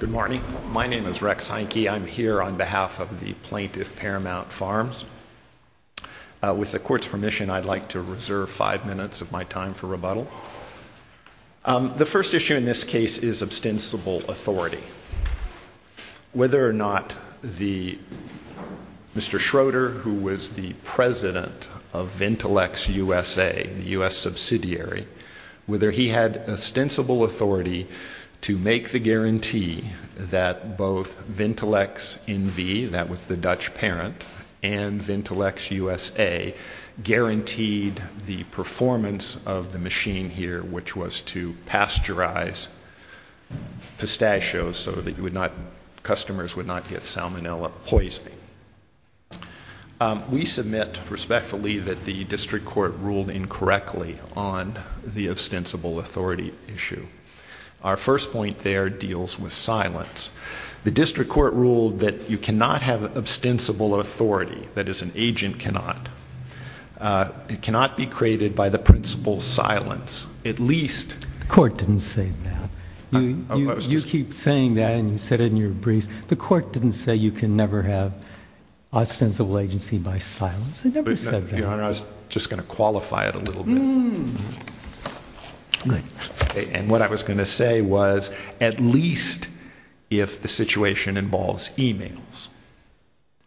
Good morning. My name is Rex Heinke. I'm here on behalf of the plaintiff, Paramount Farms. With the Court's permission, I'd like to reserve five minutes of my time for rebuttal. The first issue in this case is ostensible authority. Whether or not Mr. Schroeder, who was the president of Ventilex USA, the U.S. subsidiary, whether he had ostensible authority to make the guarantee that both Ventilex N.V., that was the Dutch parent, and Ventilex USA guaranteed the performance of the machine here, which was to pasteurize pistachios so that customers would not get salmonella poisoning. We submit respectfully that the district court ruled incorrectly on the ostensible authority issue. Our first point there deals with silence. The district court ruled that you cannot have ostensible authority, that is, an agent cannot. It cannot be created by the principle of silence. At least— The court didn't say that. Almost. You keep saying that, and you said it in your briefs. The court didn't say you can never have ostensible agency by silence. It never said that. Your Honor, I was just going to qualify it a little bit. And what I was going to say was, at least if the situation involves emails.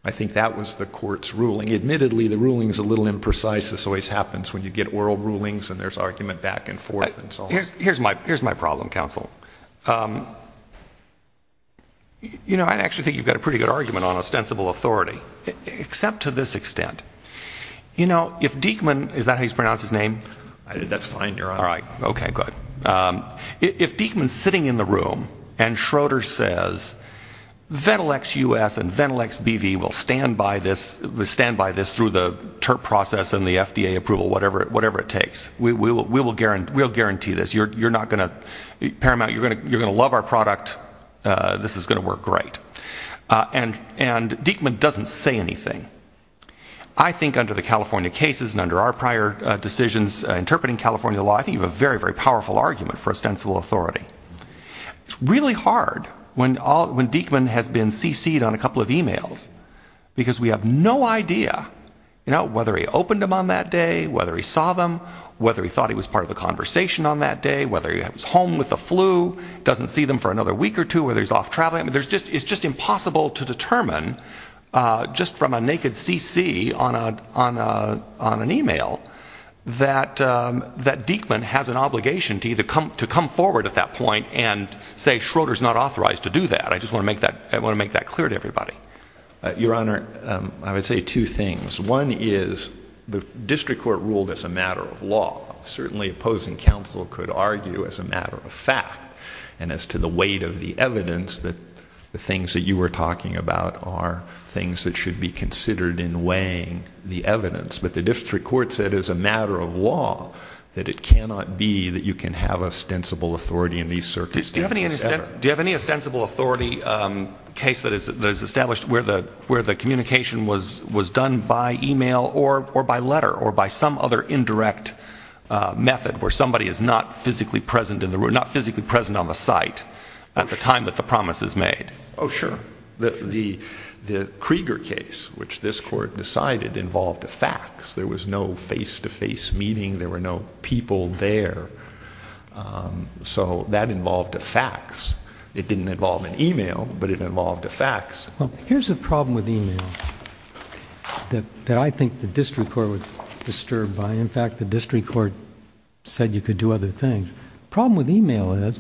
I think that was the court's ruling. Admittedly, the ruling is a little imprecise. This always happens when you get oral rulings, and there's argument back and forth, and so on. Here's my problem, counsel. You know, I actually think you've got a pretty good argument on ostensible authority. Except to this extent. You know, if Diekman—is that how you pronounce his name? That's fine, Your Honor. All right. Okay, good. If Diekman's sitting in the room, and Schroeder says, Ventilex U.S. and Ventilex B.V. will stand by this, will stand by this through the TURP process and the FDA approval, whatever it takes. We will guarantee this. You're not going to—Paramount, you're going to love our product. This is going to work great. And Diekman doesn't say anything. I think under the California cases, and under our prior decisions interpreting California law, I think you have a very, very powerful argument for ostensible authority. It's really hard when Diekman has been CC'd on a couple of emails, because we have no idea, you know, whether he opened them on that day, whether he saw them, whether he was home with the flu, doesn't see them for another week or two, whether he's off traveling. It's just impossible to determine, just from a naked CC on an email, that Diekman has an obligation to come forward at that point and say, Schroeder's not authorized to do that. I just want to make that clear to everybody. Your Honor, I would say two things. One is, the district court ruled as a matter of law. Certainly opposing counsel could argue as a matter of fact, and as to the weight of the evidence, that the things that you were talking about are things that should be considered in weighing the evidence. But the district court said as a matter of law, that it cannot be that you can have ostensible authority in these circumstances ever. Do you have any ostensible authority case that is established where the communication was done by email or by letter or by some other indirect method where somebody is not physically present in the room, not physically present on the site at the time that the promise is made? Oh, sure. The Krieger case, which this court decided involved a fax. There was no face-to-face meeting. There were no people there. So that involved a fax. It didn't involve an email, but it involved a fax. Here's the problem with email that I think the district court was disturbed by. In fact, the district court said you could do other things. The problem with email is,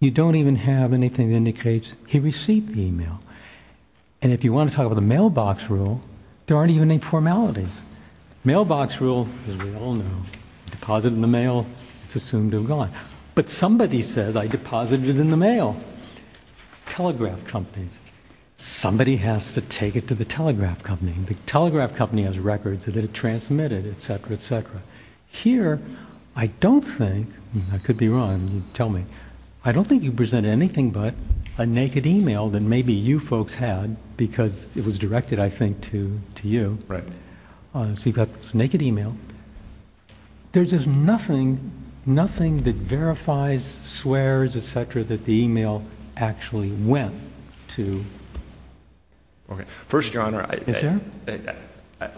you don't even have anything that indicates he received the email. And if you want to talk about the mailbox rule, there aren't even any formalities. Mailbox rule, as we all know, deposit in the mail, it's assumed to have gone. But somebody says, I deposited it in the mail. Telegraph companies, somebody has to take it to the telegraph company. The telegraph company has records that it transmitted, etc., etc. Here, I don't think, I could be wrong, tell me, I don't think you presented anything but a naked email that maybe you folks had because it was directed, I think, to you. Right. So you've got this naked email. There's just nothing, nothing that verifies, swears, etc., that the email actually went to. Okay. First, Your Honor, I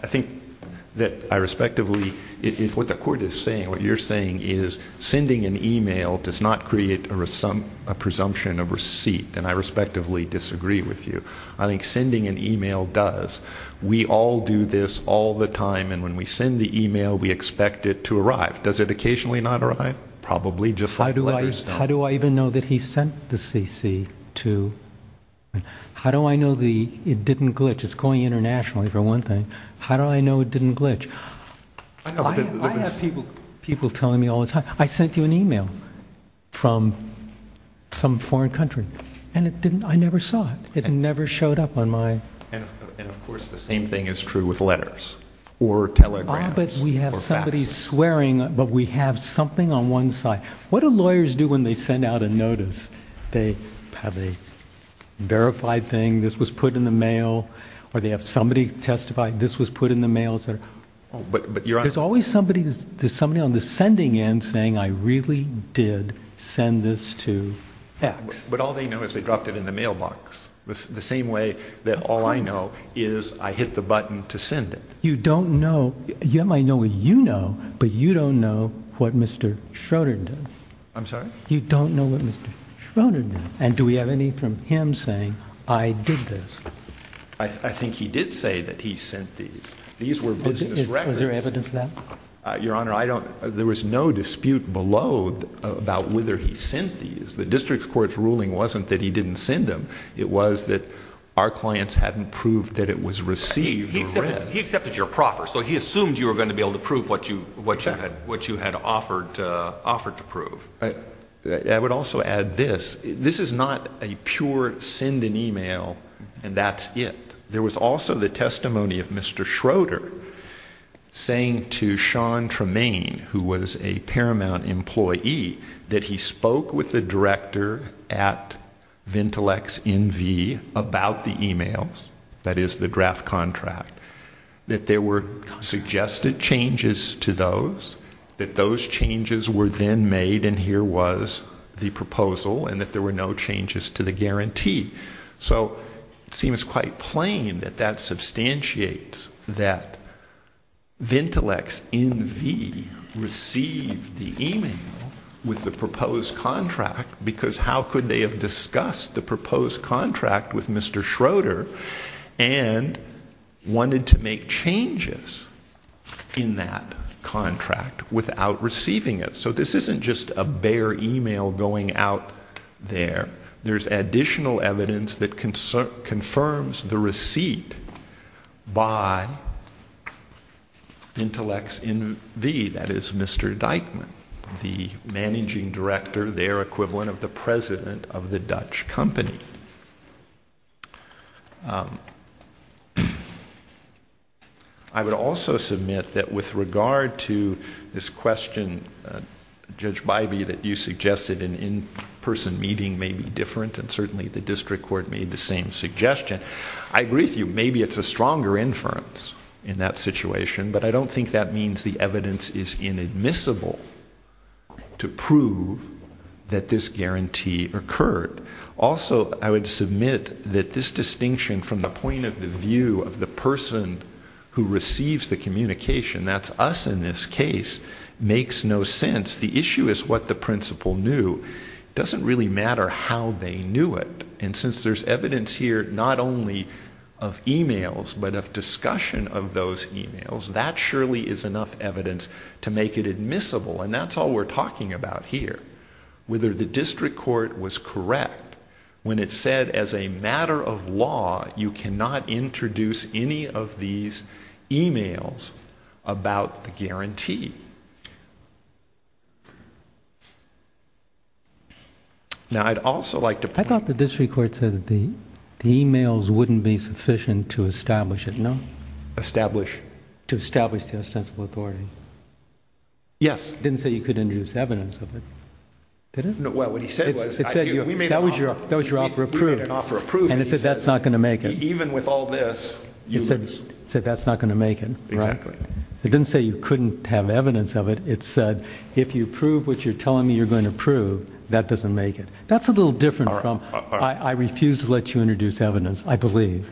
think that I respectively, if what the court is saying, what you're saying is sending an email does not create a presumption of receipt, then I respectively disagree with you. I think sending an email does. We all do this all the time and when we send the email, we expect it to arrive. Does it occasionally not arrive? Probably just like letters. How do I even know that he sent the cc to? How do I know it didn't glitch? It's going internationally for one thing. How do I know it didn't glitch? I have people telling me all the time, I sent you an email from some foreign country and I never saw it. It never showed up on my. And of course, the same thing is true with letters or telegrams or faxes. We have somebody swearing, but we have something on one side. What do lawyers do when they send out a notice? They have a verified thing, this was put in the mail, or they have somebody testify, this was put in the mail, etc. There's always somebody on the sending end saying I really did send this to fax. But all they know is they dropped it in the mailbox. The same way that all I know is I hit the button to send it. You don't know, you might know what you know, but you don't know what Mr. Schroeder did. I'm sorry? You don't know what Mr. Schroeder did. And do we have any from him saying I did this? I think he did say that he sent these. These were business records. Was there evidence of that? Your Honor, I don't, there was no dispute below about whether he sent these. The district court's ruling wasn't that he didn't send them. It was that our clients hadn't proved that it was received or read. He accepted your proffer, so he assumed you were going to be able to prove what you had offered to prove. I would also add this. This is not a pure send an email and that's it. There was also the testimony of Mr. Schroeder saying to Sean Tremaine, who was a Paramount employee, that he spoke with the director at Ventilex NV about the emails, that is the draft contract, that there were suggested changes to those, that those changes were then made and here was the proposal and that there were no changes to the guarantee. So it seems quite plain that that substantiates that Ventilex NV received the email with the proposed contract because how could they have discussed the proposed contract with Mr. Schroeder and wanted to make changes in that contract without receiving it? So this isn't just a bare email going out there. There's additional evidence that confirms the receipt by Ventilex NV, that is, Mr. Dyckman, the managing director, their equivalent of the president of the Dutch company. I would also submit that with regard to this question, Judge Bybee, that you suggested an in-person meeting may be different and certainly the district court made the same suggestion. I agree with you, maybe it's a stronger inference in that situation, but I don't think that means the evidence is inadmissible to prove that this guarantee occurred. Also I would submit that this distinction from the point of the view of the person who receives the communication, that's us in this case, makes no sense. The issue is what the doesn't really matter how they knew it. And since there's evidence here not only of emails but of discussion of those emails, that surely is enough evidence to make it admissible and that's all we're talking about here. Whether the district court was correct when it said as a matter of law, you cannot introduce any of these emails about the guarantee. Now I'd also like to point... I thought the district court said that the emails wouldn't be sufficient to establish it, no? Establish? To establish the ostensible authority. Yes. Didn't say you could introduce evidence of it, did it? Well, what he said was... That was your offer of proof. And he said that's not going to make it. He said that's not going to make it. It didn't say you couldn't have evidence of it, it said if you prove what you're telling me you're going to prove, that doesn't make it. That's a little different from I refuse to let you introduce evidence, I believe.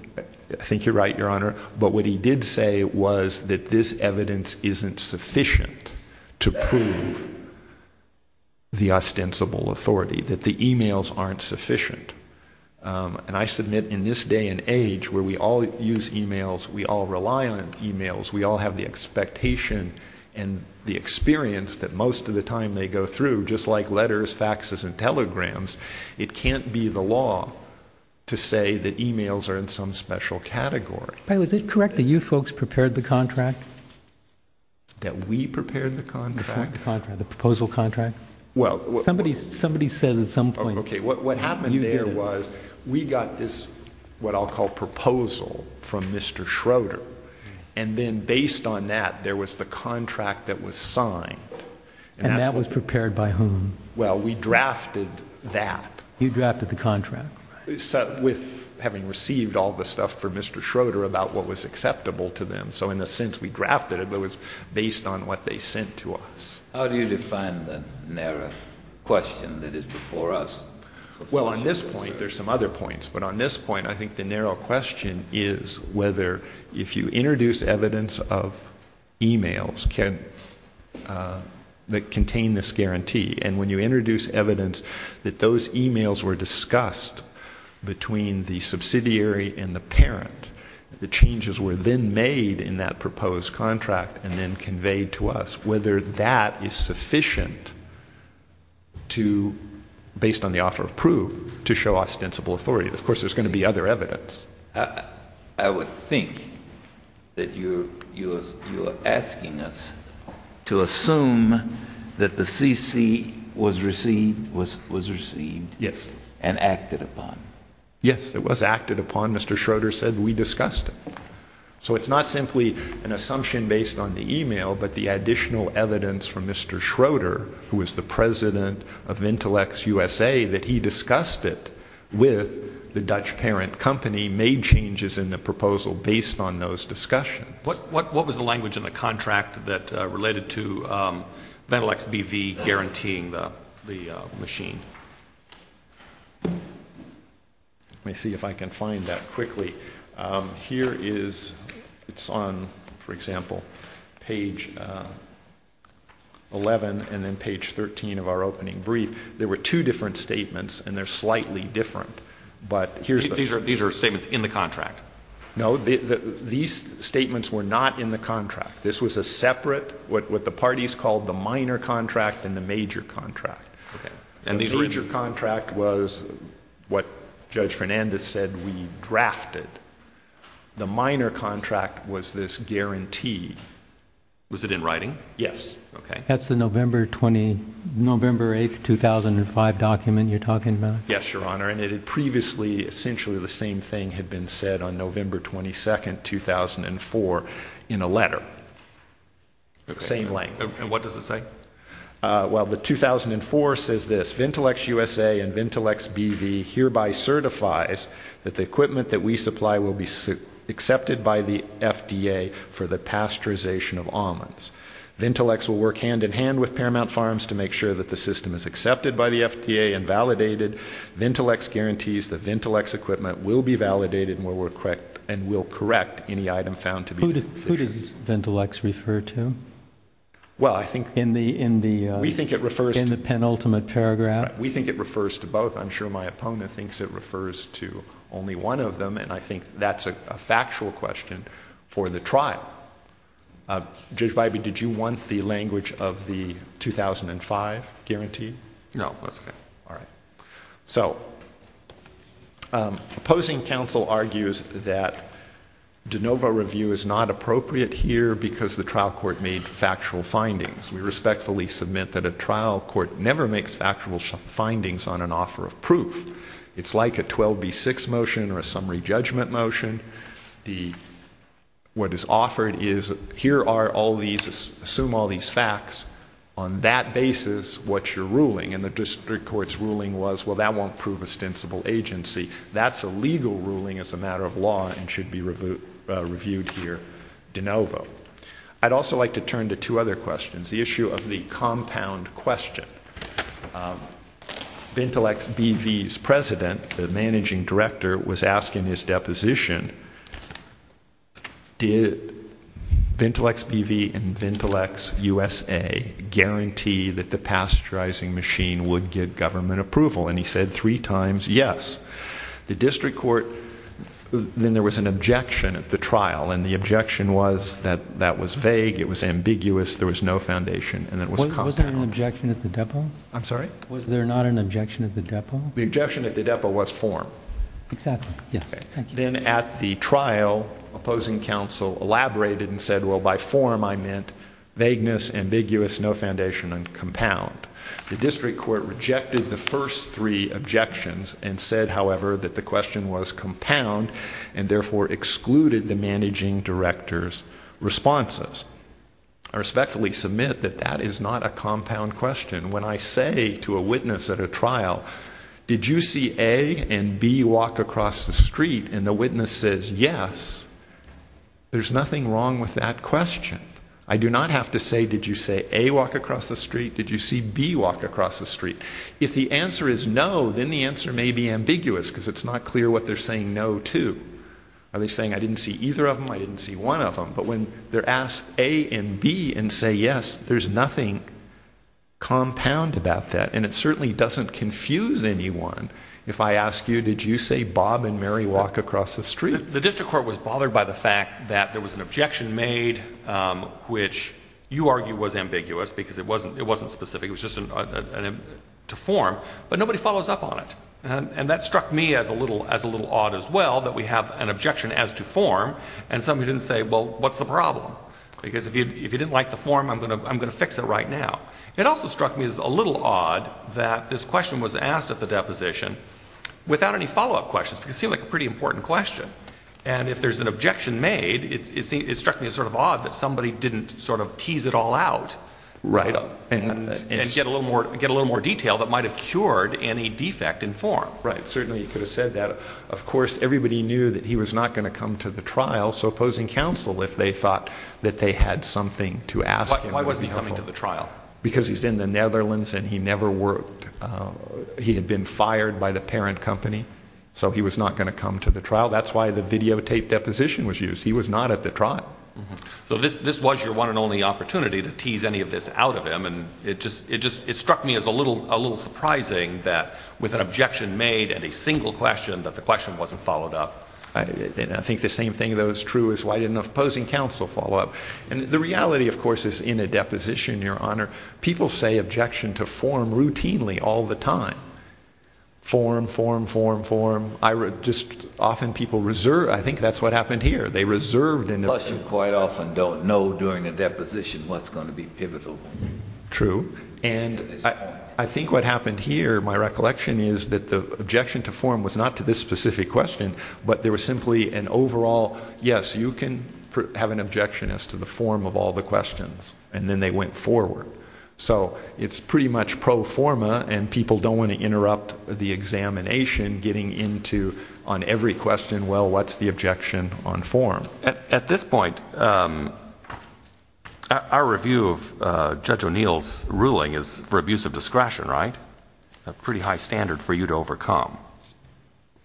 I think you're right, Your Honor, but what he did say was that this evidence isn't sufficient to prove the ostensible authority, that the emails aren't sufficient. And I submit in this day and age where we all use emails, we all rely on emails, we all have the expectation and the experience that most of the time they go through, just like letters, faxes, and telegrams, it can't be the law to say that emails are in some special category. Is it correct that you folks prepared the contract? That we prepared the contract? The proposal contract? Well... Somebody said at some point... Okay, what happened there was we got this, what I'll call proposal from Mr. Schroeder, and then based on that, there was the contract that was signed. And that was prepared by whom? Well, we drafted that. You drafted the contract? With having received all the stuff from Mr. Schroeder about what was acceptable to them. So in a sense we drafted it, but it was based on what they sent to us. How do you define the narrow question that is before us? Well, on this point, there's some other points, but on this point I think the narrow question is whether if you introduce evidence of emails that contain this guarantee, and when you introduce evidence that those emails were discussed between the subsidiary and the parent, the changes were then made in that proposed contract and then conveyed to us, whether that is sufficient to, based on the offer of proof, to show ostensible authority. Of course, there's going to be other evidence. I would think that you are asking us to assume that the CC was received and acted upon. Yes, it was acted upon. Mr. Schroeder said we discussed it. So it's not simply an assumption based on the email, but the additional evidence from Mr. Schroeder, who was the president of IntellectsUSA, that he discussed it with the Dutch parent company, made changes in the proposal based on those discussions. What was the language in the contract that related to Ventilex BV guaranteeing the machine? Let me see if I can find that quickly. Here is, it's on, for example, page 11 and then page 13 of our opening brief. There were two different statements, and they're statements were not in the contract. This was a separate, what the parties called the minor contract and the major contract. And the major contract was what Judge Fernandez said we drafted. The minor contract was this guarantee. Was it in writing? Yes. Okay. That's the November 20, November 8, 2005 document you're talking about? Yes, Your Honor, and previously essentially the same thing had been said on November 22, 2004 in a letter. Same language. And what does it say? Well, the 2004 says this, VentilexUSA and VentilexBV hereby certifies that the equipment that we supply will be accepted by the FDA for the pasteurization of almonds. Ventilex will work hand in hand with Paramount Farms to make sure that the system is accepted by the FDA and validated. Ventilex guarantees that Ventilex equipment will be validated and will correct any item found to be deficient. Who does Ventilex refer to in the penultimate paragraph? We think it refers to both. I'm sure my opponent thinks it refers to only one of them, and I think that's a factual question for the trial. Judge Bybee, did you want the language of the 2005 guarantee? No, that's okay. All right. So opposing counsel argues that de novo review is not appropriate here because the trial court made factual findings. We respectfully submit that a trial court never makes factual findings on an offer of proof. It's like a 12B6 motion or a summary judgment motion. What is offered is, here are all these, assume all these facts. On that basis, what you're ruling, and the district court's ruling was, well, that won't prove ostensible agency. That's a legal ruling as a matter of law and should be reviewed here de novo. I'd also like to turn to two other questions. The issue of the compound question. VentilexBV's president, the managing director, was asking his deposition, did VentilexBV and VentilexUSA guarantee that the pasteurizing machine would get government approval? And he said three times yes. The district court, then there was an objection at the trial, and the objection was that that was vague, it was ambiguous, there was no foundation, and it was compound. Was there an objection at the depot? I'm sorry? Was there not an objection at the depot? The objection at the depot was form. Exactly, yes. Then at the trial, opposing counsel elaborated and said, well, by form I meant vagueness, ambiguous, no foundation, and compound. The district court rejected the first three objections and said, however, that the question was compound and therefore excluded the managing director's responses. I respectfully submit that that is not a compound question. When I say to a witness at a trial, did you see A and B walk across the street, and the witness says yes, there's nothing wrong with that question. I do not have to say, did you see A walk across the street? Did you see B walk across the street? If the answer is no, then the answer may be ambiguous because it's not clear what they're saying no to. Are they saying I didn't see either of them, I didn't ask A and B and say yes, there's nothing compound about that. And it certainly doesn't confuse anyone if I ask you, did you say Bob and Mary walk across the street? The district court was bothered by the fact that there was an objection made, which you argue was ambiguous because it wasn't specific, it was just to form, but nobody follows up on it. And that struck me as a little odd as well, that we have an objection as to form, and somebody didn't say, well, what's the problem? Because if you didn't like the form, I'm going to fix it right now. It also struck me as a little odd that this question was asked at the deposition without any follow-up questions, because it seemed like a pretty important question. And if there's an objection made, it struck me as sort of odd that somebody didn't sort of tease it all out and get a little more detail that might have cured any defect in form. Right, certainly you could have said that. Of course, everybody knew that he was not going to come to the trial, so opposing counsel, if they thought that they had something to ask him, would be helpful. Why wasn't he coming to the trial? Because he's in the Netherlands and he never worked. He had been fired by the parent company, so he was not going to come to the trial. That's why the videotape deposition was used. He was not at the trial. So this was your one and only opportunity to tease any of this out of him, and it struck me as a little surprising that with an objection made and a single question, that the question wasn't followed up. And I think the same thing, though, is true is why didn't opposing counsel follow up? And the reality, of course, is in a deposition, Your Honor, people say objection to form routinely all the time. Form, form, form, form. I just often people reserve, I think that's what happened here. They reserved an objection. Plus you quite often don't know during a deposition what's going to be pivotal. True. And I think what happened here, my recollection is that the objection to form was not to this specific question, but there was simply an overall, yes, you can have an objection as to the form of all the questions, and then they went forward. So it's pretty much pro forma, and people don't want to interrupt the examination, getting into on every question, well, what's the objection on form? At this point, our review of Judge O'Neill's ruling is for abuse of discretion, right? A pretty high standard for you to overcome.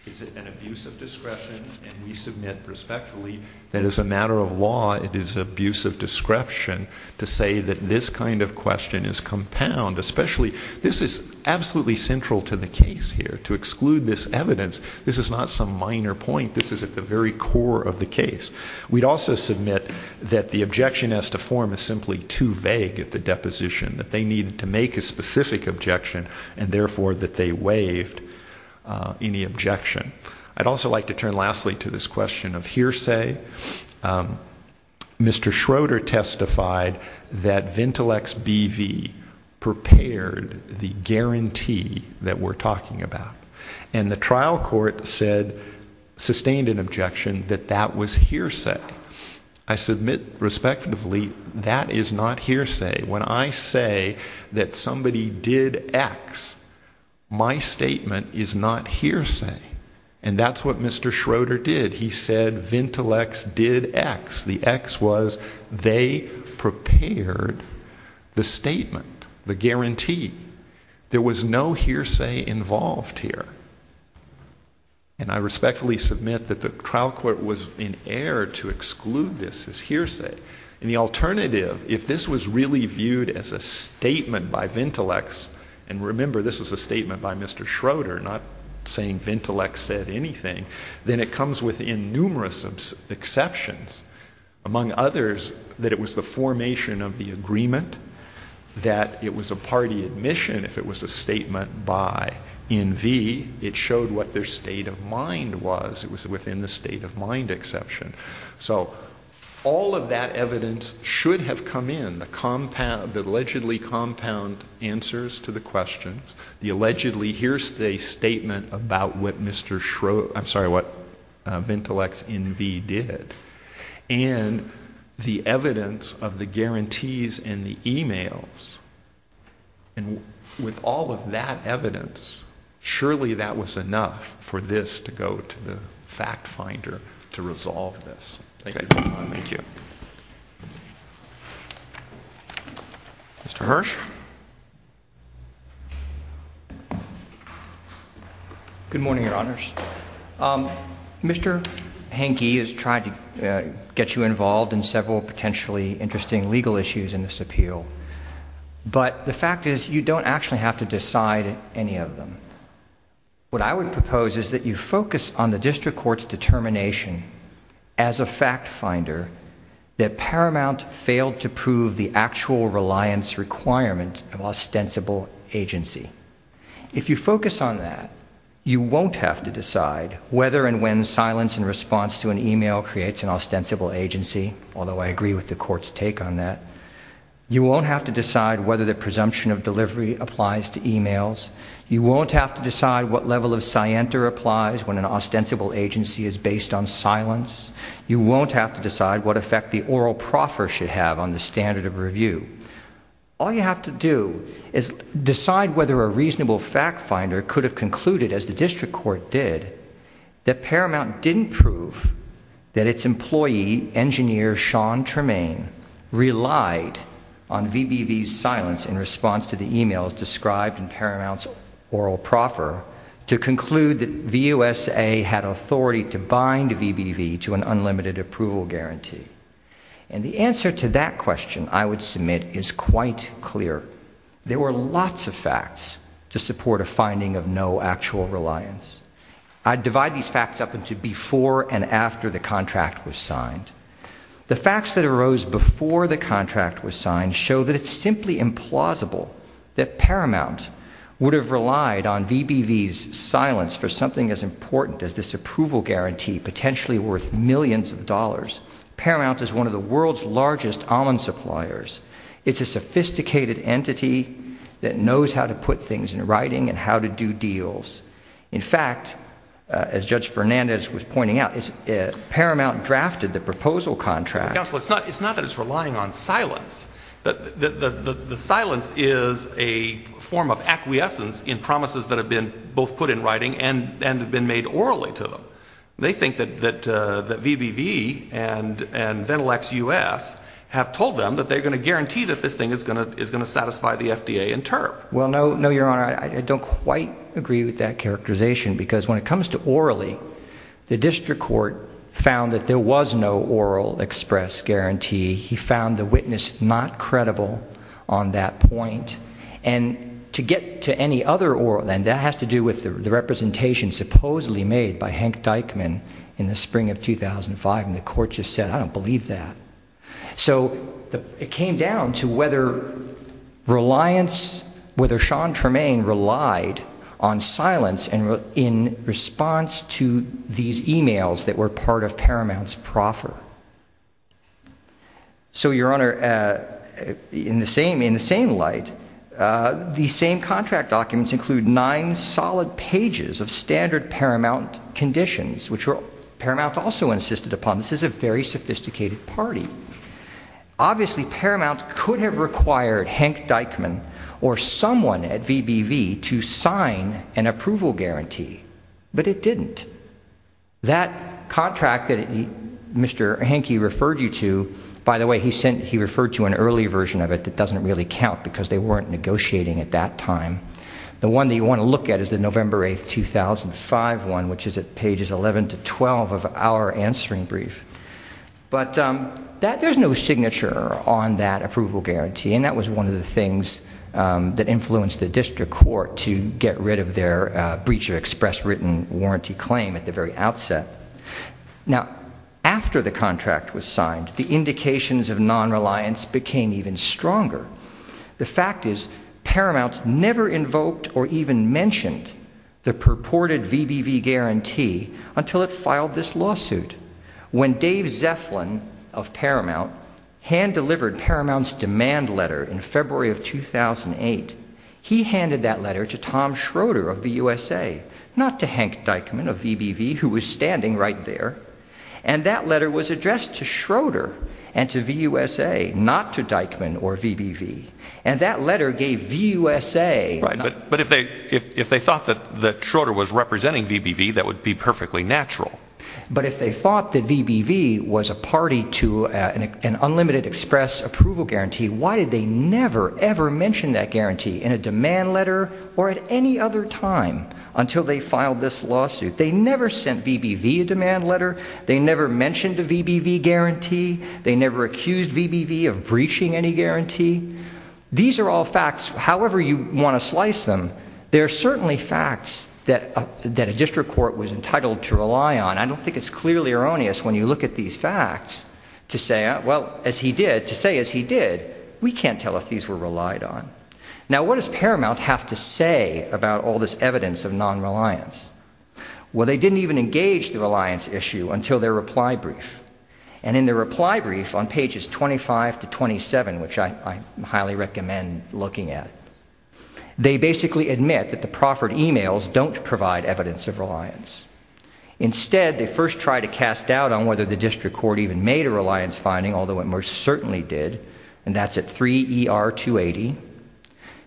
Is it an abuse of discretion, and we submit respectfully that as a matter of law, it is abuse of discretion to say that this kind of question is compound, especially, this is absolutely central to the case here, to exclude this evidence, this is not some minor point, this is at the very core of the case. We'd also submit that the objection as to form is simply too vague at the deposition, that they needed to make a specific objection, and therefore that they waived any objection. I'd also like to turn lastly to this question of hearsay. Mr. Schroeder testified that Ventilex BV prepared the guarantee that we're talking about, and the trial court said, sustained an objection, that that was hearsay. I submit respectfully, that is not hearsay. When I say that somebody did X, my statement is not hearsay. And that's what Mr. Schroeder did. He said Ventilex did X. The X was, they prepared the statement, the guarantee. There was no hearsay involved here. And I respectfully submit that the trial court was in error to exclude this as hearsay. And the alternative, if this was really viewed as a statement by Ventilex, and remember, this was a statement by Mr. Schroeder, not saying Ventilex said anything. Then it comes within numerous exceptions. Among others, that it was the formation of the agreement, that it was a party admission, if it was a statement by NV, it showed what their state of mind was. It was within the state of mind exception. So, all of that evidence should have come in, the compound, the allegedly compound answers to the questions. The allegedly hearsay statement about what Mr. Schroeder, I'm sorry, what Ventilex NV did. And the evidence of the guarantees and the emails. And with all of that evidence, surely that was enough for this to go to the fact finder to resolve this. Thank you. Thank you. Mr. Hirsh? Good morning, your honors. Mr. Hankey has tried to get you involved in several potentially interesting legal issues in this appeal. But the fact is, you don't actually have to decide any of them. What I would propose is that you focus on the district court's determination as a fact finder that Paramount failed to prove the actual reliance requirement of ostensible agency. If you focus on that, you won't have to decide whether and when silence in response to an email creates an ostensible agency, although I agree with the court's take on that. You won't have to decide whether the presumption of delivery applies to emails. You won't have to decide what level of scienter applies when an ostensible agency is based on silence. You won't have to decide what effect the oral proffer should have on the standard of review. All you have to do is decide whether a reasonable fact finder could have concluded, as the district court did, that Paramount didn't prove that its employee, the engineer Sean Tremaine, relied on VBV's silence in response to the emails described in Paramount's oral proffer to conclude that VUSA had authority to bind VBV to an unlimited approval guarantee. And the answer to that question, I would submit, is quite clear. There were lots of facts to support a finding of no actual reliance. I divide these facts up into before and after the contract was signed. The facts that arose before the contract was signed show that it's simply implausible that Paramount would have relied on VBV's silence for something as important as this approval guarantee, potentially worth millions of dollars. Paramount is one of the world's largest almond suppliers. It's a sophisticated entity that knows how to put things in writing and how to do deals. In fact, as Judge Fernandez was pointing out, Paramount drafted the proposal contract- Counsel, it's not that it's relying on silence. The silence is a form of acquiescence in promises that have been both put in writing and have been made orally to them. They think that VBV and Ventilex US have told them that they're going to guarantee that this thing is going to satisfy the FDA in term. Well, no, your honor, I don't quite agree with that characterization because when it comes to orally, the district court found that there was no oral express guarantee. He found the witness not credible on that point. And to get to any other oral, and that has to do with the representation supposedly made by Hank Dykeman in the spring of 2005. And the court just said, I don't believe that. So it came down to whether reliance, whether Sean Tremaine relied on silence in response to these emails that were part of Paramount's proffer. So your honor, in the same light, the same contract documents include nine solid pages of standard Paramount conditions, which Paramount also insisted upon. This is a very sophisticated party. Obviously, Paramount could have required Hank Dykeman or someone at VBV to sign an approval guarantee. But it didn't. That contract that Mr. Hankey referred you to, by the way, he referred to an early version of it that doesn't really count because they weren't negotiating at that time. The one that you want to look at is the November 8th, 2005 one, which is at pages 11 to 12 of our answering brief. But there's no signature on that approval guarantee. And that was one of the things that influenced the district court to get rid of their breach of express written warranty claim at the very outset. Now, after the contract was signed, the indications of non-reliance became even stronger. The fact is, Paramount never invoked or even mentioned the purported VBV guarantee until it filed this lawsuit. When Dave Zeflin of Paramount hand-delivered Paramount's demand letter in February of 2008, he handed that letter to Tom Schroeder of VUSA, not to Hank Dykeman of VBV, who was standing right there. And that letter was addressed to Schroeder and to VUSA, not to Dykeman or VBV. And that letter gave VUSA... Right, but if they thought that Schroeder was representing VBV, that would be perfectly natural. But if they thought that VBV was a party to an unlimited express approval guarantee, why did they never, ever mention that guarantee in a demand letter or at any other time until they filed this lawsuit? They never sent VBV a demand letter. They never mentioned a VBV guarantee. They never accused VBV of breaching any guarantee. These are all facts, however you want to slice them. They're certainly facts that a district court was entitled to rely on. I don't think it's clearly erroneous when you look at these facts to say, well, as he did, to say, as he did, we can't tell if these were relied on. Now, what does Paramount have to say about all this evidence of non-reliance? Well, they didn't even engage the reliance issue until their reply brief. And in their reply brief on pages 25 to 27, which I highly recommend looking at, they basically admit that the proffered emails don't provide evidence of reliance. Instead, they first try to cast doubt on whether the district court even made a reliance finding, although it most certainly did, and that's at 3 ER 280.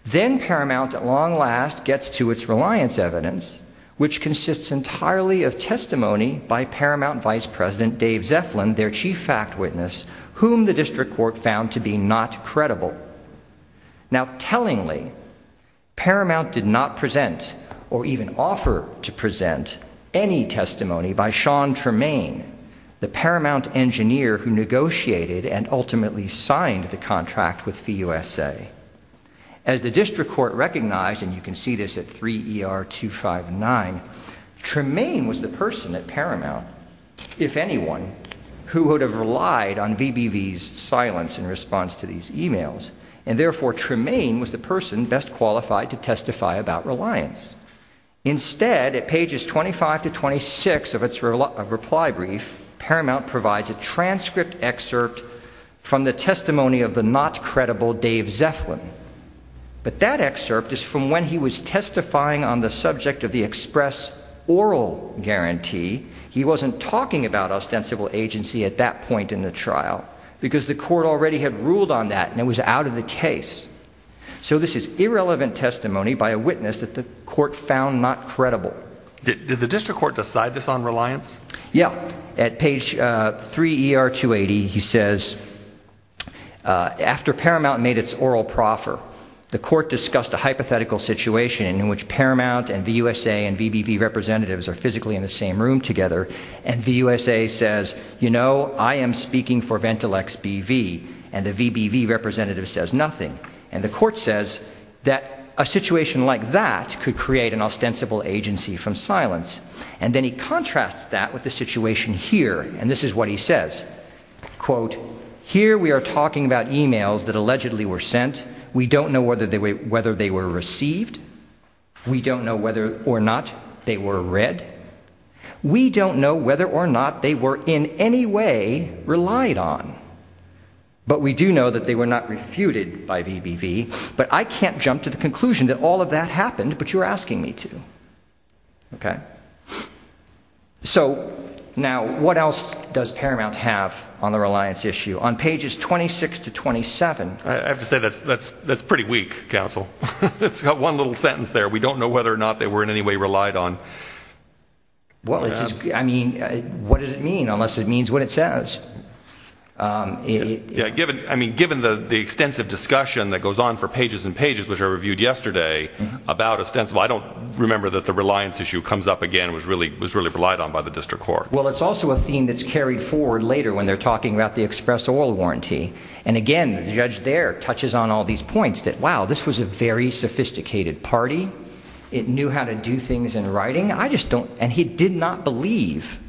Then Paramount, at long last, gets to its reliance evidence, which consists entirely of testimony by Paramount Vice President Dave Zeflin, their chief fact witness, whom the district court found to be not credible. Now, tellingly, Paramount did not present or even offer to present any testimony by Sean Tremaine, the Paramount engineer who negotiated and ultimately signed the contract with the USA. As the district court recognized, and you can see this at 3 ER 259, Tremaine was the person at Paramount, if anyone, who would have relied on VBV's silence in response to these emails. And therefore, Tremaine was the person best qualified to testify about reliance. Instead, at pages 25 to 26 of its reply brief, Paramount provides a transcript excerpt from the testimony of the not credible Dave Zeflin. But that excerpt is from when he was testifying on the subject of the express oral guarantee. He wasn't talking about ostensible agency at that point in the trial, because the court already had ruled on that and it was out of the case. So this is irrelevant testimony by a witness that the court found not credible. Did the district court decide this on reliance? Yeah, at page 3 ER 280, he says, after Paramount made its oral proffer, the court discussed a hypothetical situation in which Paramount and VUSA and VBV representatives are physically in the same room together. And VUSA says, you know, I am speaking for Ventilex BV, and the VBV representative says nothing. And the court says that a situation like that could create an ostensible agency from silence. And then he contrasts that with the situation here, and this is what he says. Quote, here we are talking about emails that allegedly were sent. We don't know whether they were received. We don't know whether or not they were read. We don't know whether or not they were in any way relied on. But we do know that they were not refuted by VBV. But I can't jump to the conclusion that all of that happened, but you're asking me to. Okay? So now, what else does Paramount have on the reliance issue? On pages 26 to 27. I have to say that's pretty weak, counsel. It's got one little sentence there. We don't know whether or not they were in any way relied on. Well, it's just, I mean, what does it mean, unless it means what it says? Yeah, given, I mean, given the extensive discussion that goes on for pages and pages, which I reviewed yesterday, about ostensible, I don't remember that the reliance issue comes up again was really relied on by the district court. Well, it's also a theme that's carried forward later when they're talking about the express oil warranty. And again, the judge there touches on all these points that, wow, this was a very sophisticated party. It knew how to do things in writing. I just don't, and he did not believe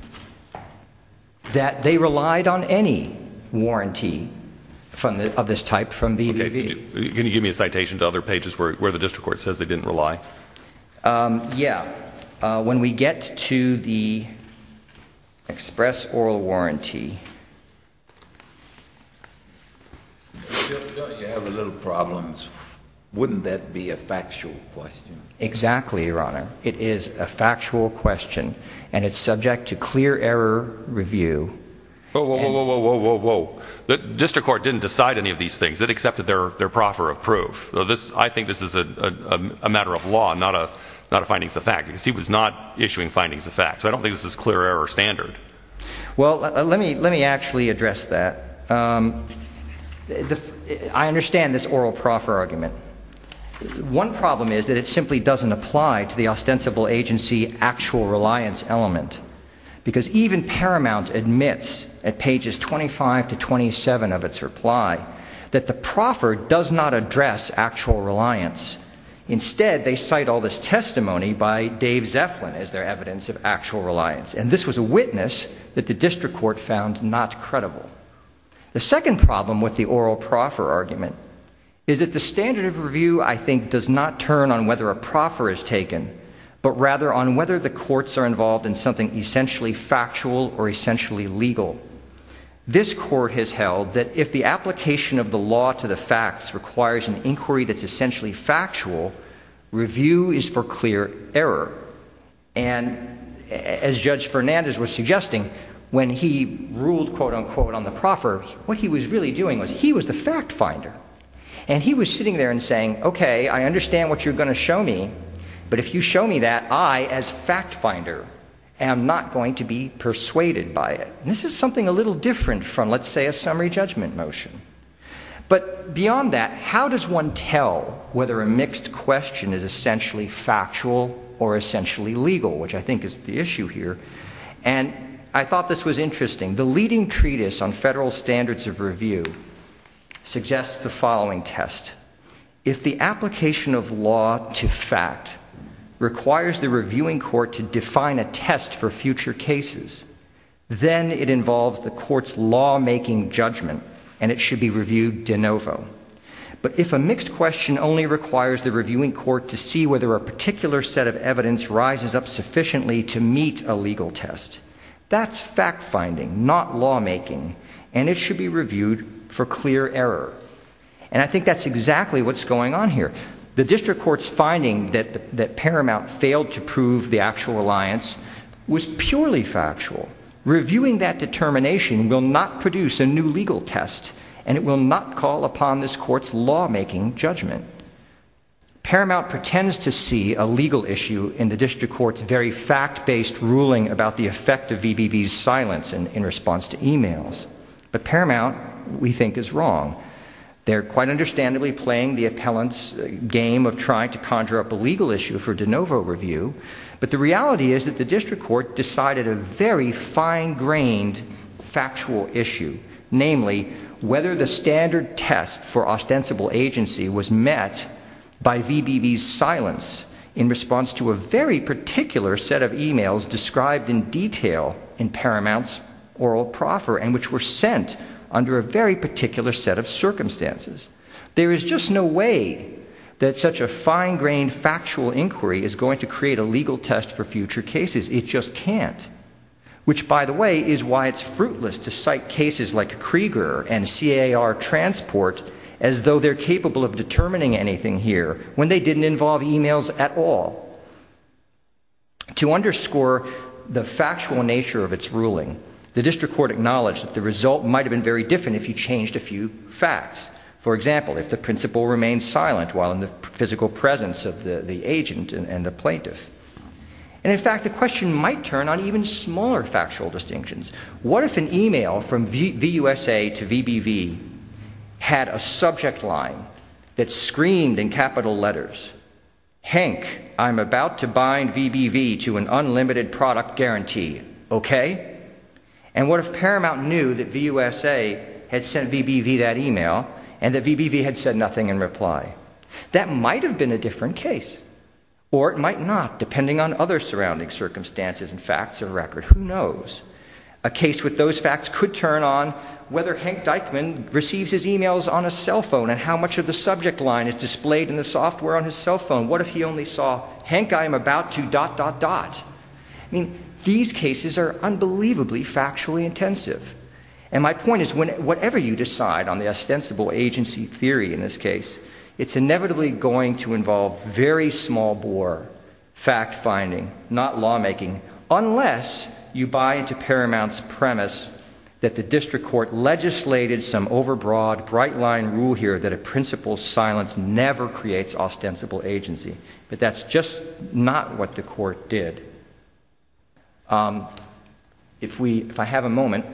that they relied on any warranty of this type from BVV. Okay, can you give me a citation to other pages where the district court says they didn't rely? Yeah. When we get to the express oil warranty. You have a little problems. Wouldn't that be a factual question? Exactly. Your honor. It is a factual question and it's subject to clear error review. Whoa, whoa, whoa, whoa, whoa, whoa, whoa, whoa, the district court didn't decide any of these things that accepted their proffer of proof. I think this is a matter of law, not a, not a findings of fact because he was not issuing findings of facts. I don't think this is clear error standard. Well, let me, let me actually address that. I understand this oral proffer argument. One problem is that it simply doesn't apply to the ostensible agency actual reliance element because even Paramount admits at pages 25 to 27 of its reply that the proffer does not address actual reliance. Instead they cite all this testimony by Dave Zeflin as their evidence of actual reliance. And this was a witness that the district court found not credible. The second problem with the oral proffer argument is that the standard of review I think does not turn on whether a proffer is taken, but rather on whether the courts are involved in something essentially factual or essentially legal. This court has held that if the application of the law to the facts requires an inquiry that's essentially factual, review is for clear error. And as Judge Fernandez was suggesting, when he ruled quote unquote on the proffer, what he was really doing was he was the fact finder and he was sitting there and saying, okay, I understand what you're going to show me, but if you show me that I as fact finder am not going to be persuaded by it. This is something a little different from let's say a summary judgment motion. But beyond that, how does one tell whether a mixed question is essentially factual or essentially legal, which I think is the issue here. And I thought this was interesting. The leading treatise on federal standards of review suggests the following test. If the application of law to fact requires the reviewing court to define a test for future cases, then it involves the court's lawmaking judgment and it should be reviewed de novo. But if a mixed question only requires the reviewing court to see whether a particular set of evidence rises up sufficiently to meet a legal test, that's fact finding, not lawmaking. And it should be reviewed for clear error. And I think that's exactly what's going on here. The district court's finding that Paramount failed to prove the actual reliance was purely factual. Reviewing that determination will not produce a new legal test and it will not call upon this court's lawmaking judgment. Paramount pretends to see a legal issue in the district court's very fact-based ruling about the effect of VBB's silence in response to emails. But Paramount, we think, is wrong. They're quite understandably playing the appellant's game of trying to conjure up a legal issue for de novo review. But the reality is that the district court decided a very fine-grained factual issue, namely, whether the standard test for ostensible agency was met by VBB's silence in response to a very particular set of emails described in detail in Paramount's oral proffer and which were sent under a very particular set of circumstances. There is just no way that such a fine-grained factual inquiry is going to create a legal test for future cases. It just can't. Which, by the way, is why it's fruitless to cite cases like Krieger and CAR Transport as though they're capable of determining anything here when they didn't involve emails at all. To underscore the factual nature of its ruling, the district court acknowledged that the result might have been very different if you changed a few facts. For example, if the principal remained silent while in the physical presence of the agent and the plaintiff. And in fact, the question might turn on even smaller factual distinctions. What if an email from VUSA to VBB had a subject line that screamed in capital letters, Hank, I'm about to bind VBB to an unlimited product guarantee, OK? And what if Paramount knew that VUSA had sent VBB that email and that VBB had said nothing in reply? That might have been a different case. Or it might not, depending on other surrounding circumstances and facts of record. Who knows? A case with those facts could turn on whether Hank Dykeman receives his emails on a cell phone and how much of the subject line is displayed in the software on his cell phone. What if he only saw, Hank, I'm about to dot, dot, dot? These cases are unbelievably factually intensive. And my point is, whatever you decide on the ostensible agency theory in this case, it's inevitably going to involve very small bore, fact-finding, not lawmaking, unless you buy into Paramount's premise that the district court legislated some overbroad, bright-line rule here that a principal's silence never creates ostensible agency. But that's just not what the court did. If we, if I have a moment,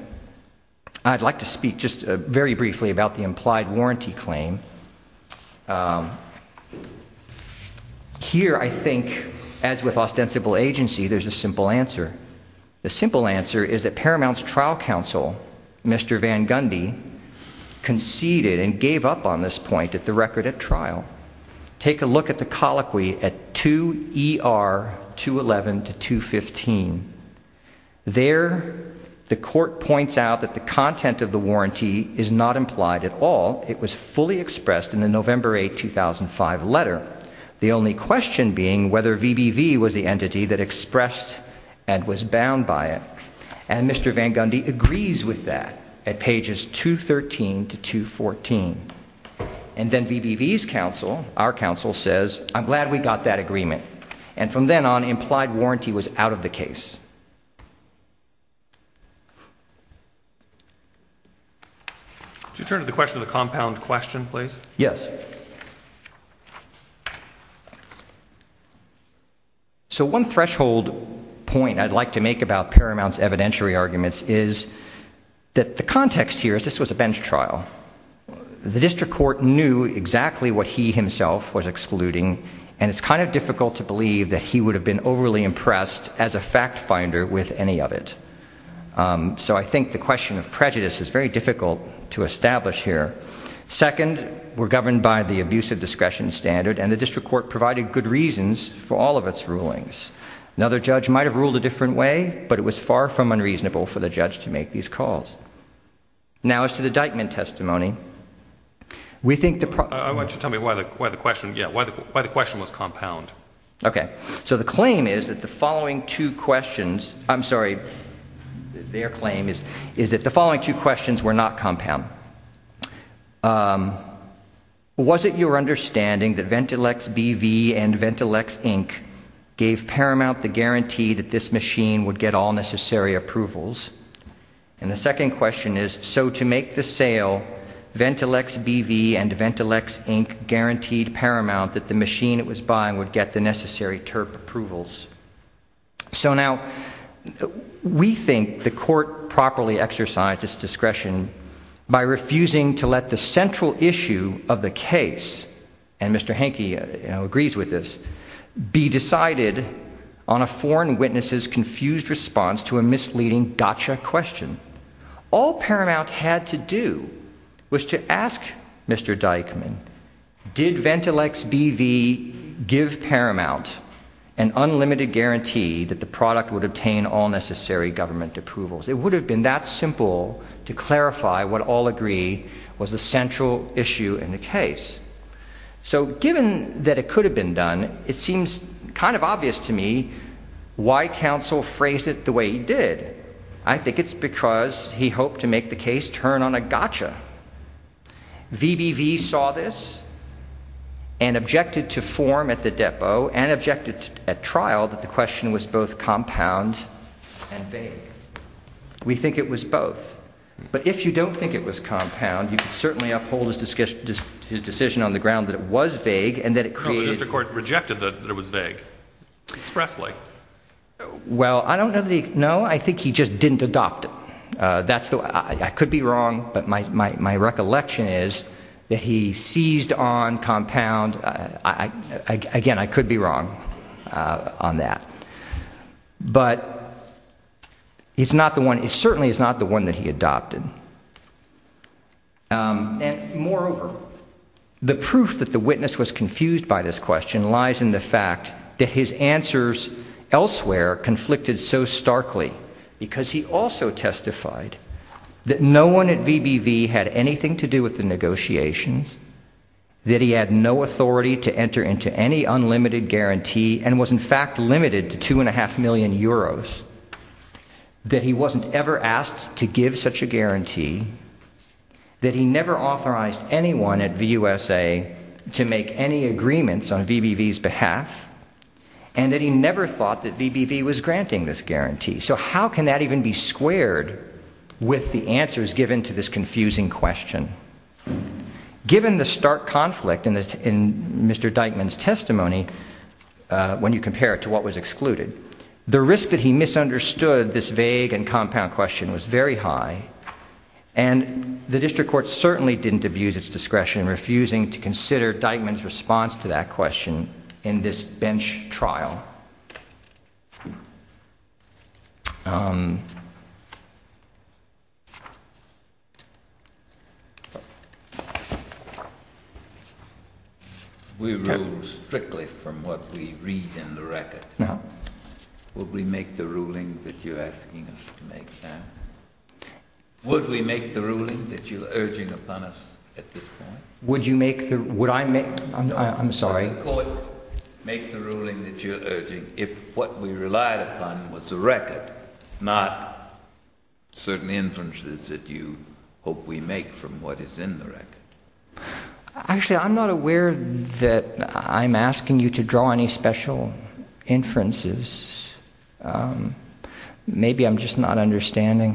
I'd like to speak just very briefly about the implied warranty claim. Here, I think, as with ostensible agency, there's a simple answer. The simple answer is that Paramount's trial counsel, Mr. Van Gundy, conceded and gave Take a look at the colloquy at 2 ER 211 to 215. There the court points out that the content of the warranty is not implied at all. It was fully expressed in the November 8, 2005 letter. The only question being whether VBV was the entity that expressed and was bound by it. And Mr. Van Gundy agrees with that at pages 213 to 214. And then VBV's counsel, our counsel, says, I'm glad we got that agreement. And from then on, implied warranty was out of the case. Could you turn to the question of the compound question, please? Yes. So one threshold point I'd like to make about Paramount's evidentiary arguments is that the context here is this was a bench trial. The district court knew exactly what he himself was excluding. And it's kind of difficult to believe that he would have been overly impressed as a fact finder with any of it. So I think the question of prejudice is very difficult to establish here. Second, we're governed by the abuse of discretion standard. And the district court provided good reasons for all of its rulings. Now, the judge might have ruled a different way. But it was far from unreasonable for the judge to make these calls. Now, as to the Dykeman testimony, we think the problem- Why don't you tell me why the question was compound? OK. So the claim is that the following two questions, I'm sorry, their claim is that the following two questions were not compound. Was it your understanding that Ventilex BV and Ventilex Inc gave Paramount the guarantee that this machine would get all necessary approvals? And the second question is, so to make the sale, Ventilex BV and Ventilex Inc guaranteed Paramount that the machine it was buying would get the necessary TERP approvals. So now, we think the court properly exercised its discretion by refusing to let the central issue of the case, and Mr. Henke agrees with this, be decided on a foreign witness's gotcha question. All Paramount had to do was to ask Mr. Dykeman, did Ventilex BV give Paramount an unlimited guarantee that the product would obtain all necessary government approvals? It would have been that simple to clarify what all agree was the central issue in the case. So given that it could have been done, it seems kind of obvious to me why counsel phrased it the way he did. I think it's because he hoped to make the case turn on a gotcha. VBV saw this and objected to form at the depot and objected at trial that the question was both compound and vague. We think it was both, but if you don't think it was compound, you could certainly uphold his decision on the ground that it was vague and that it created... Well, I don't know that he... No, I think he just didn't adopt it. That's the... I could be wrong, but my recollection is that he seized on compound. Again, I could be wrong on that. But it's not the one... It certainly is not the one that he adopted. And moreover, the proof that the witness was confused by this question lies in the fact that his answers elsewhere conflicted so starkly, because he also testified that no one at VBV had anything to do with the negotiations, that he had no authority to enter into any unlimited guarantee and was in fact limited to 2.5 million euros, that he wasn't ever asked to give such a guarantee, that he never authorized anyone at VUSA to make any agreements on VBV's behalf, and that he never thought that VBV was granting this guarantee. So how can that even be squared with the answers given to this confusing question? Given the stark conflict in Mr. Dykeman's testimony, when you compare it to what was excluded, the risk that he misunderstood this vague and compound question was very high, and the district court certainly didn't abuse its discretion in refusing to consider Dykeman's response to that question in this bench trial. We rule strictly from what we read in the record. No. Would we make the ruling that you're asking us to make, then? Would we make the ruling that you're urging upon us at this point? Would you make the... Would I make... I'm sorry. Would the court make the ruling that you're urging if what we relied upon was the record, not certain inferences that you hope we make from what is in the record? Actually, I'm not aware that I'm asking you to draw any special inferences. Maybe I'm just not understanding.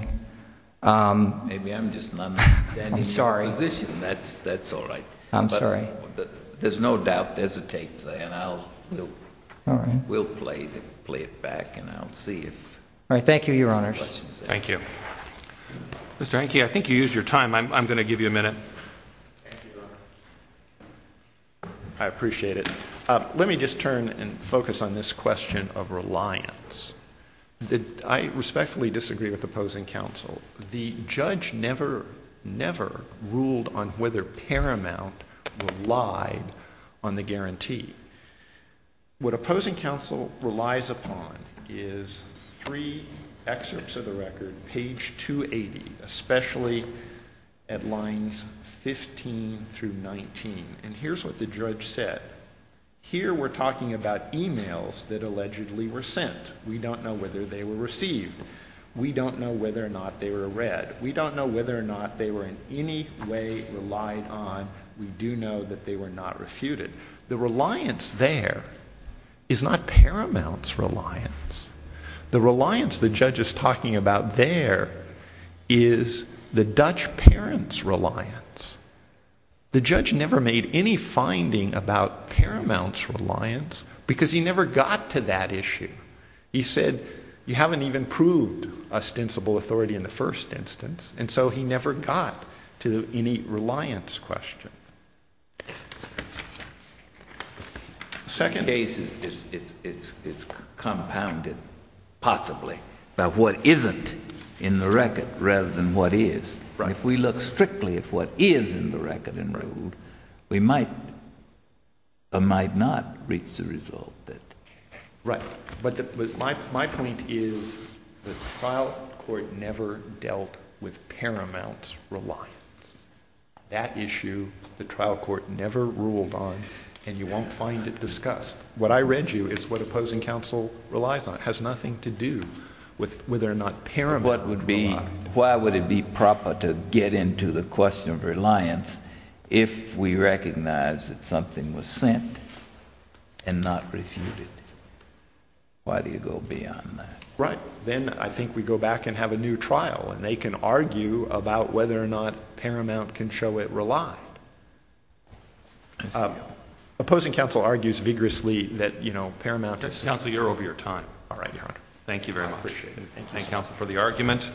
Maybe I'm just not understanding your position. That's all right. I'm sorry. There's no doubt there's a take there, and I'll... We'll play it back, and I'll see if... All right, thank you, Your Honours. Thank you. Mr. Henke, I think you used your time. I'm going to give you a minute. I appreciate it. Let me just turn and focus on this question of reliance. I respectfully disagree with opposing counsel. The judge never, never ruled on whether Paramount relied on the guarantee. What opposing counsel relies upon is three excerpts of the record, page 280, especially at lines 15 through 19. And here's what the judge said. Here, we're talking about emails that allegedly were sent. We don't know whether they were received. We don't know whether or not they were read. We don't know whether or not they were in any way relied on. We do know that they were not refuted. The reliance there is not Paramount's reliance. The reliance the judge is talking about there is the Dutch parent's reliance. The judge never made any finding about Paramount's reliance because he never got to that issue. He said, you haven't even proved ostensible authority in the first instance. And so he never got to any reliance question. The second case is compounded, possibly, by what isn't in the record rather than what is. If we look strictly at what is in the record and ruled, we might or might not reach the result that... Right, but my point is the trial court never dealt with Paramount's reliance. That issue, the trial court never ruled on, and you won't find it discussed. What I read you is what opposing counsel relies on. It has nothing to do with whether or not Paramount... What would be... Why would it be proper to get into the question of reliance if we recognize that something was sent and not refuted? Why do you go beyond that? Right, then I think we go back and have a new trial, and they can argue about whether or not Paramount can show it relied. Opposing counsel argues vigorously that, you know, Paramount... Justice Counsel, you're over your time. All right, Your Honor. Thank you very much. I appreciate it. Thank you, counsel, for the argument.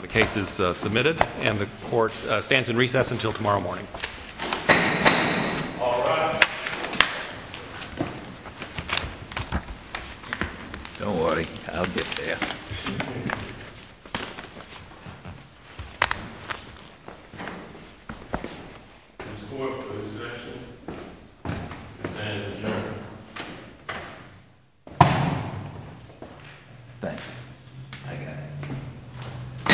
The case is submitted, and the court stands in recess until tomorrow morning. All rise. Don't worry, I'll get there. This court for the section. And adjourned. Thanks. I got it.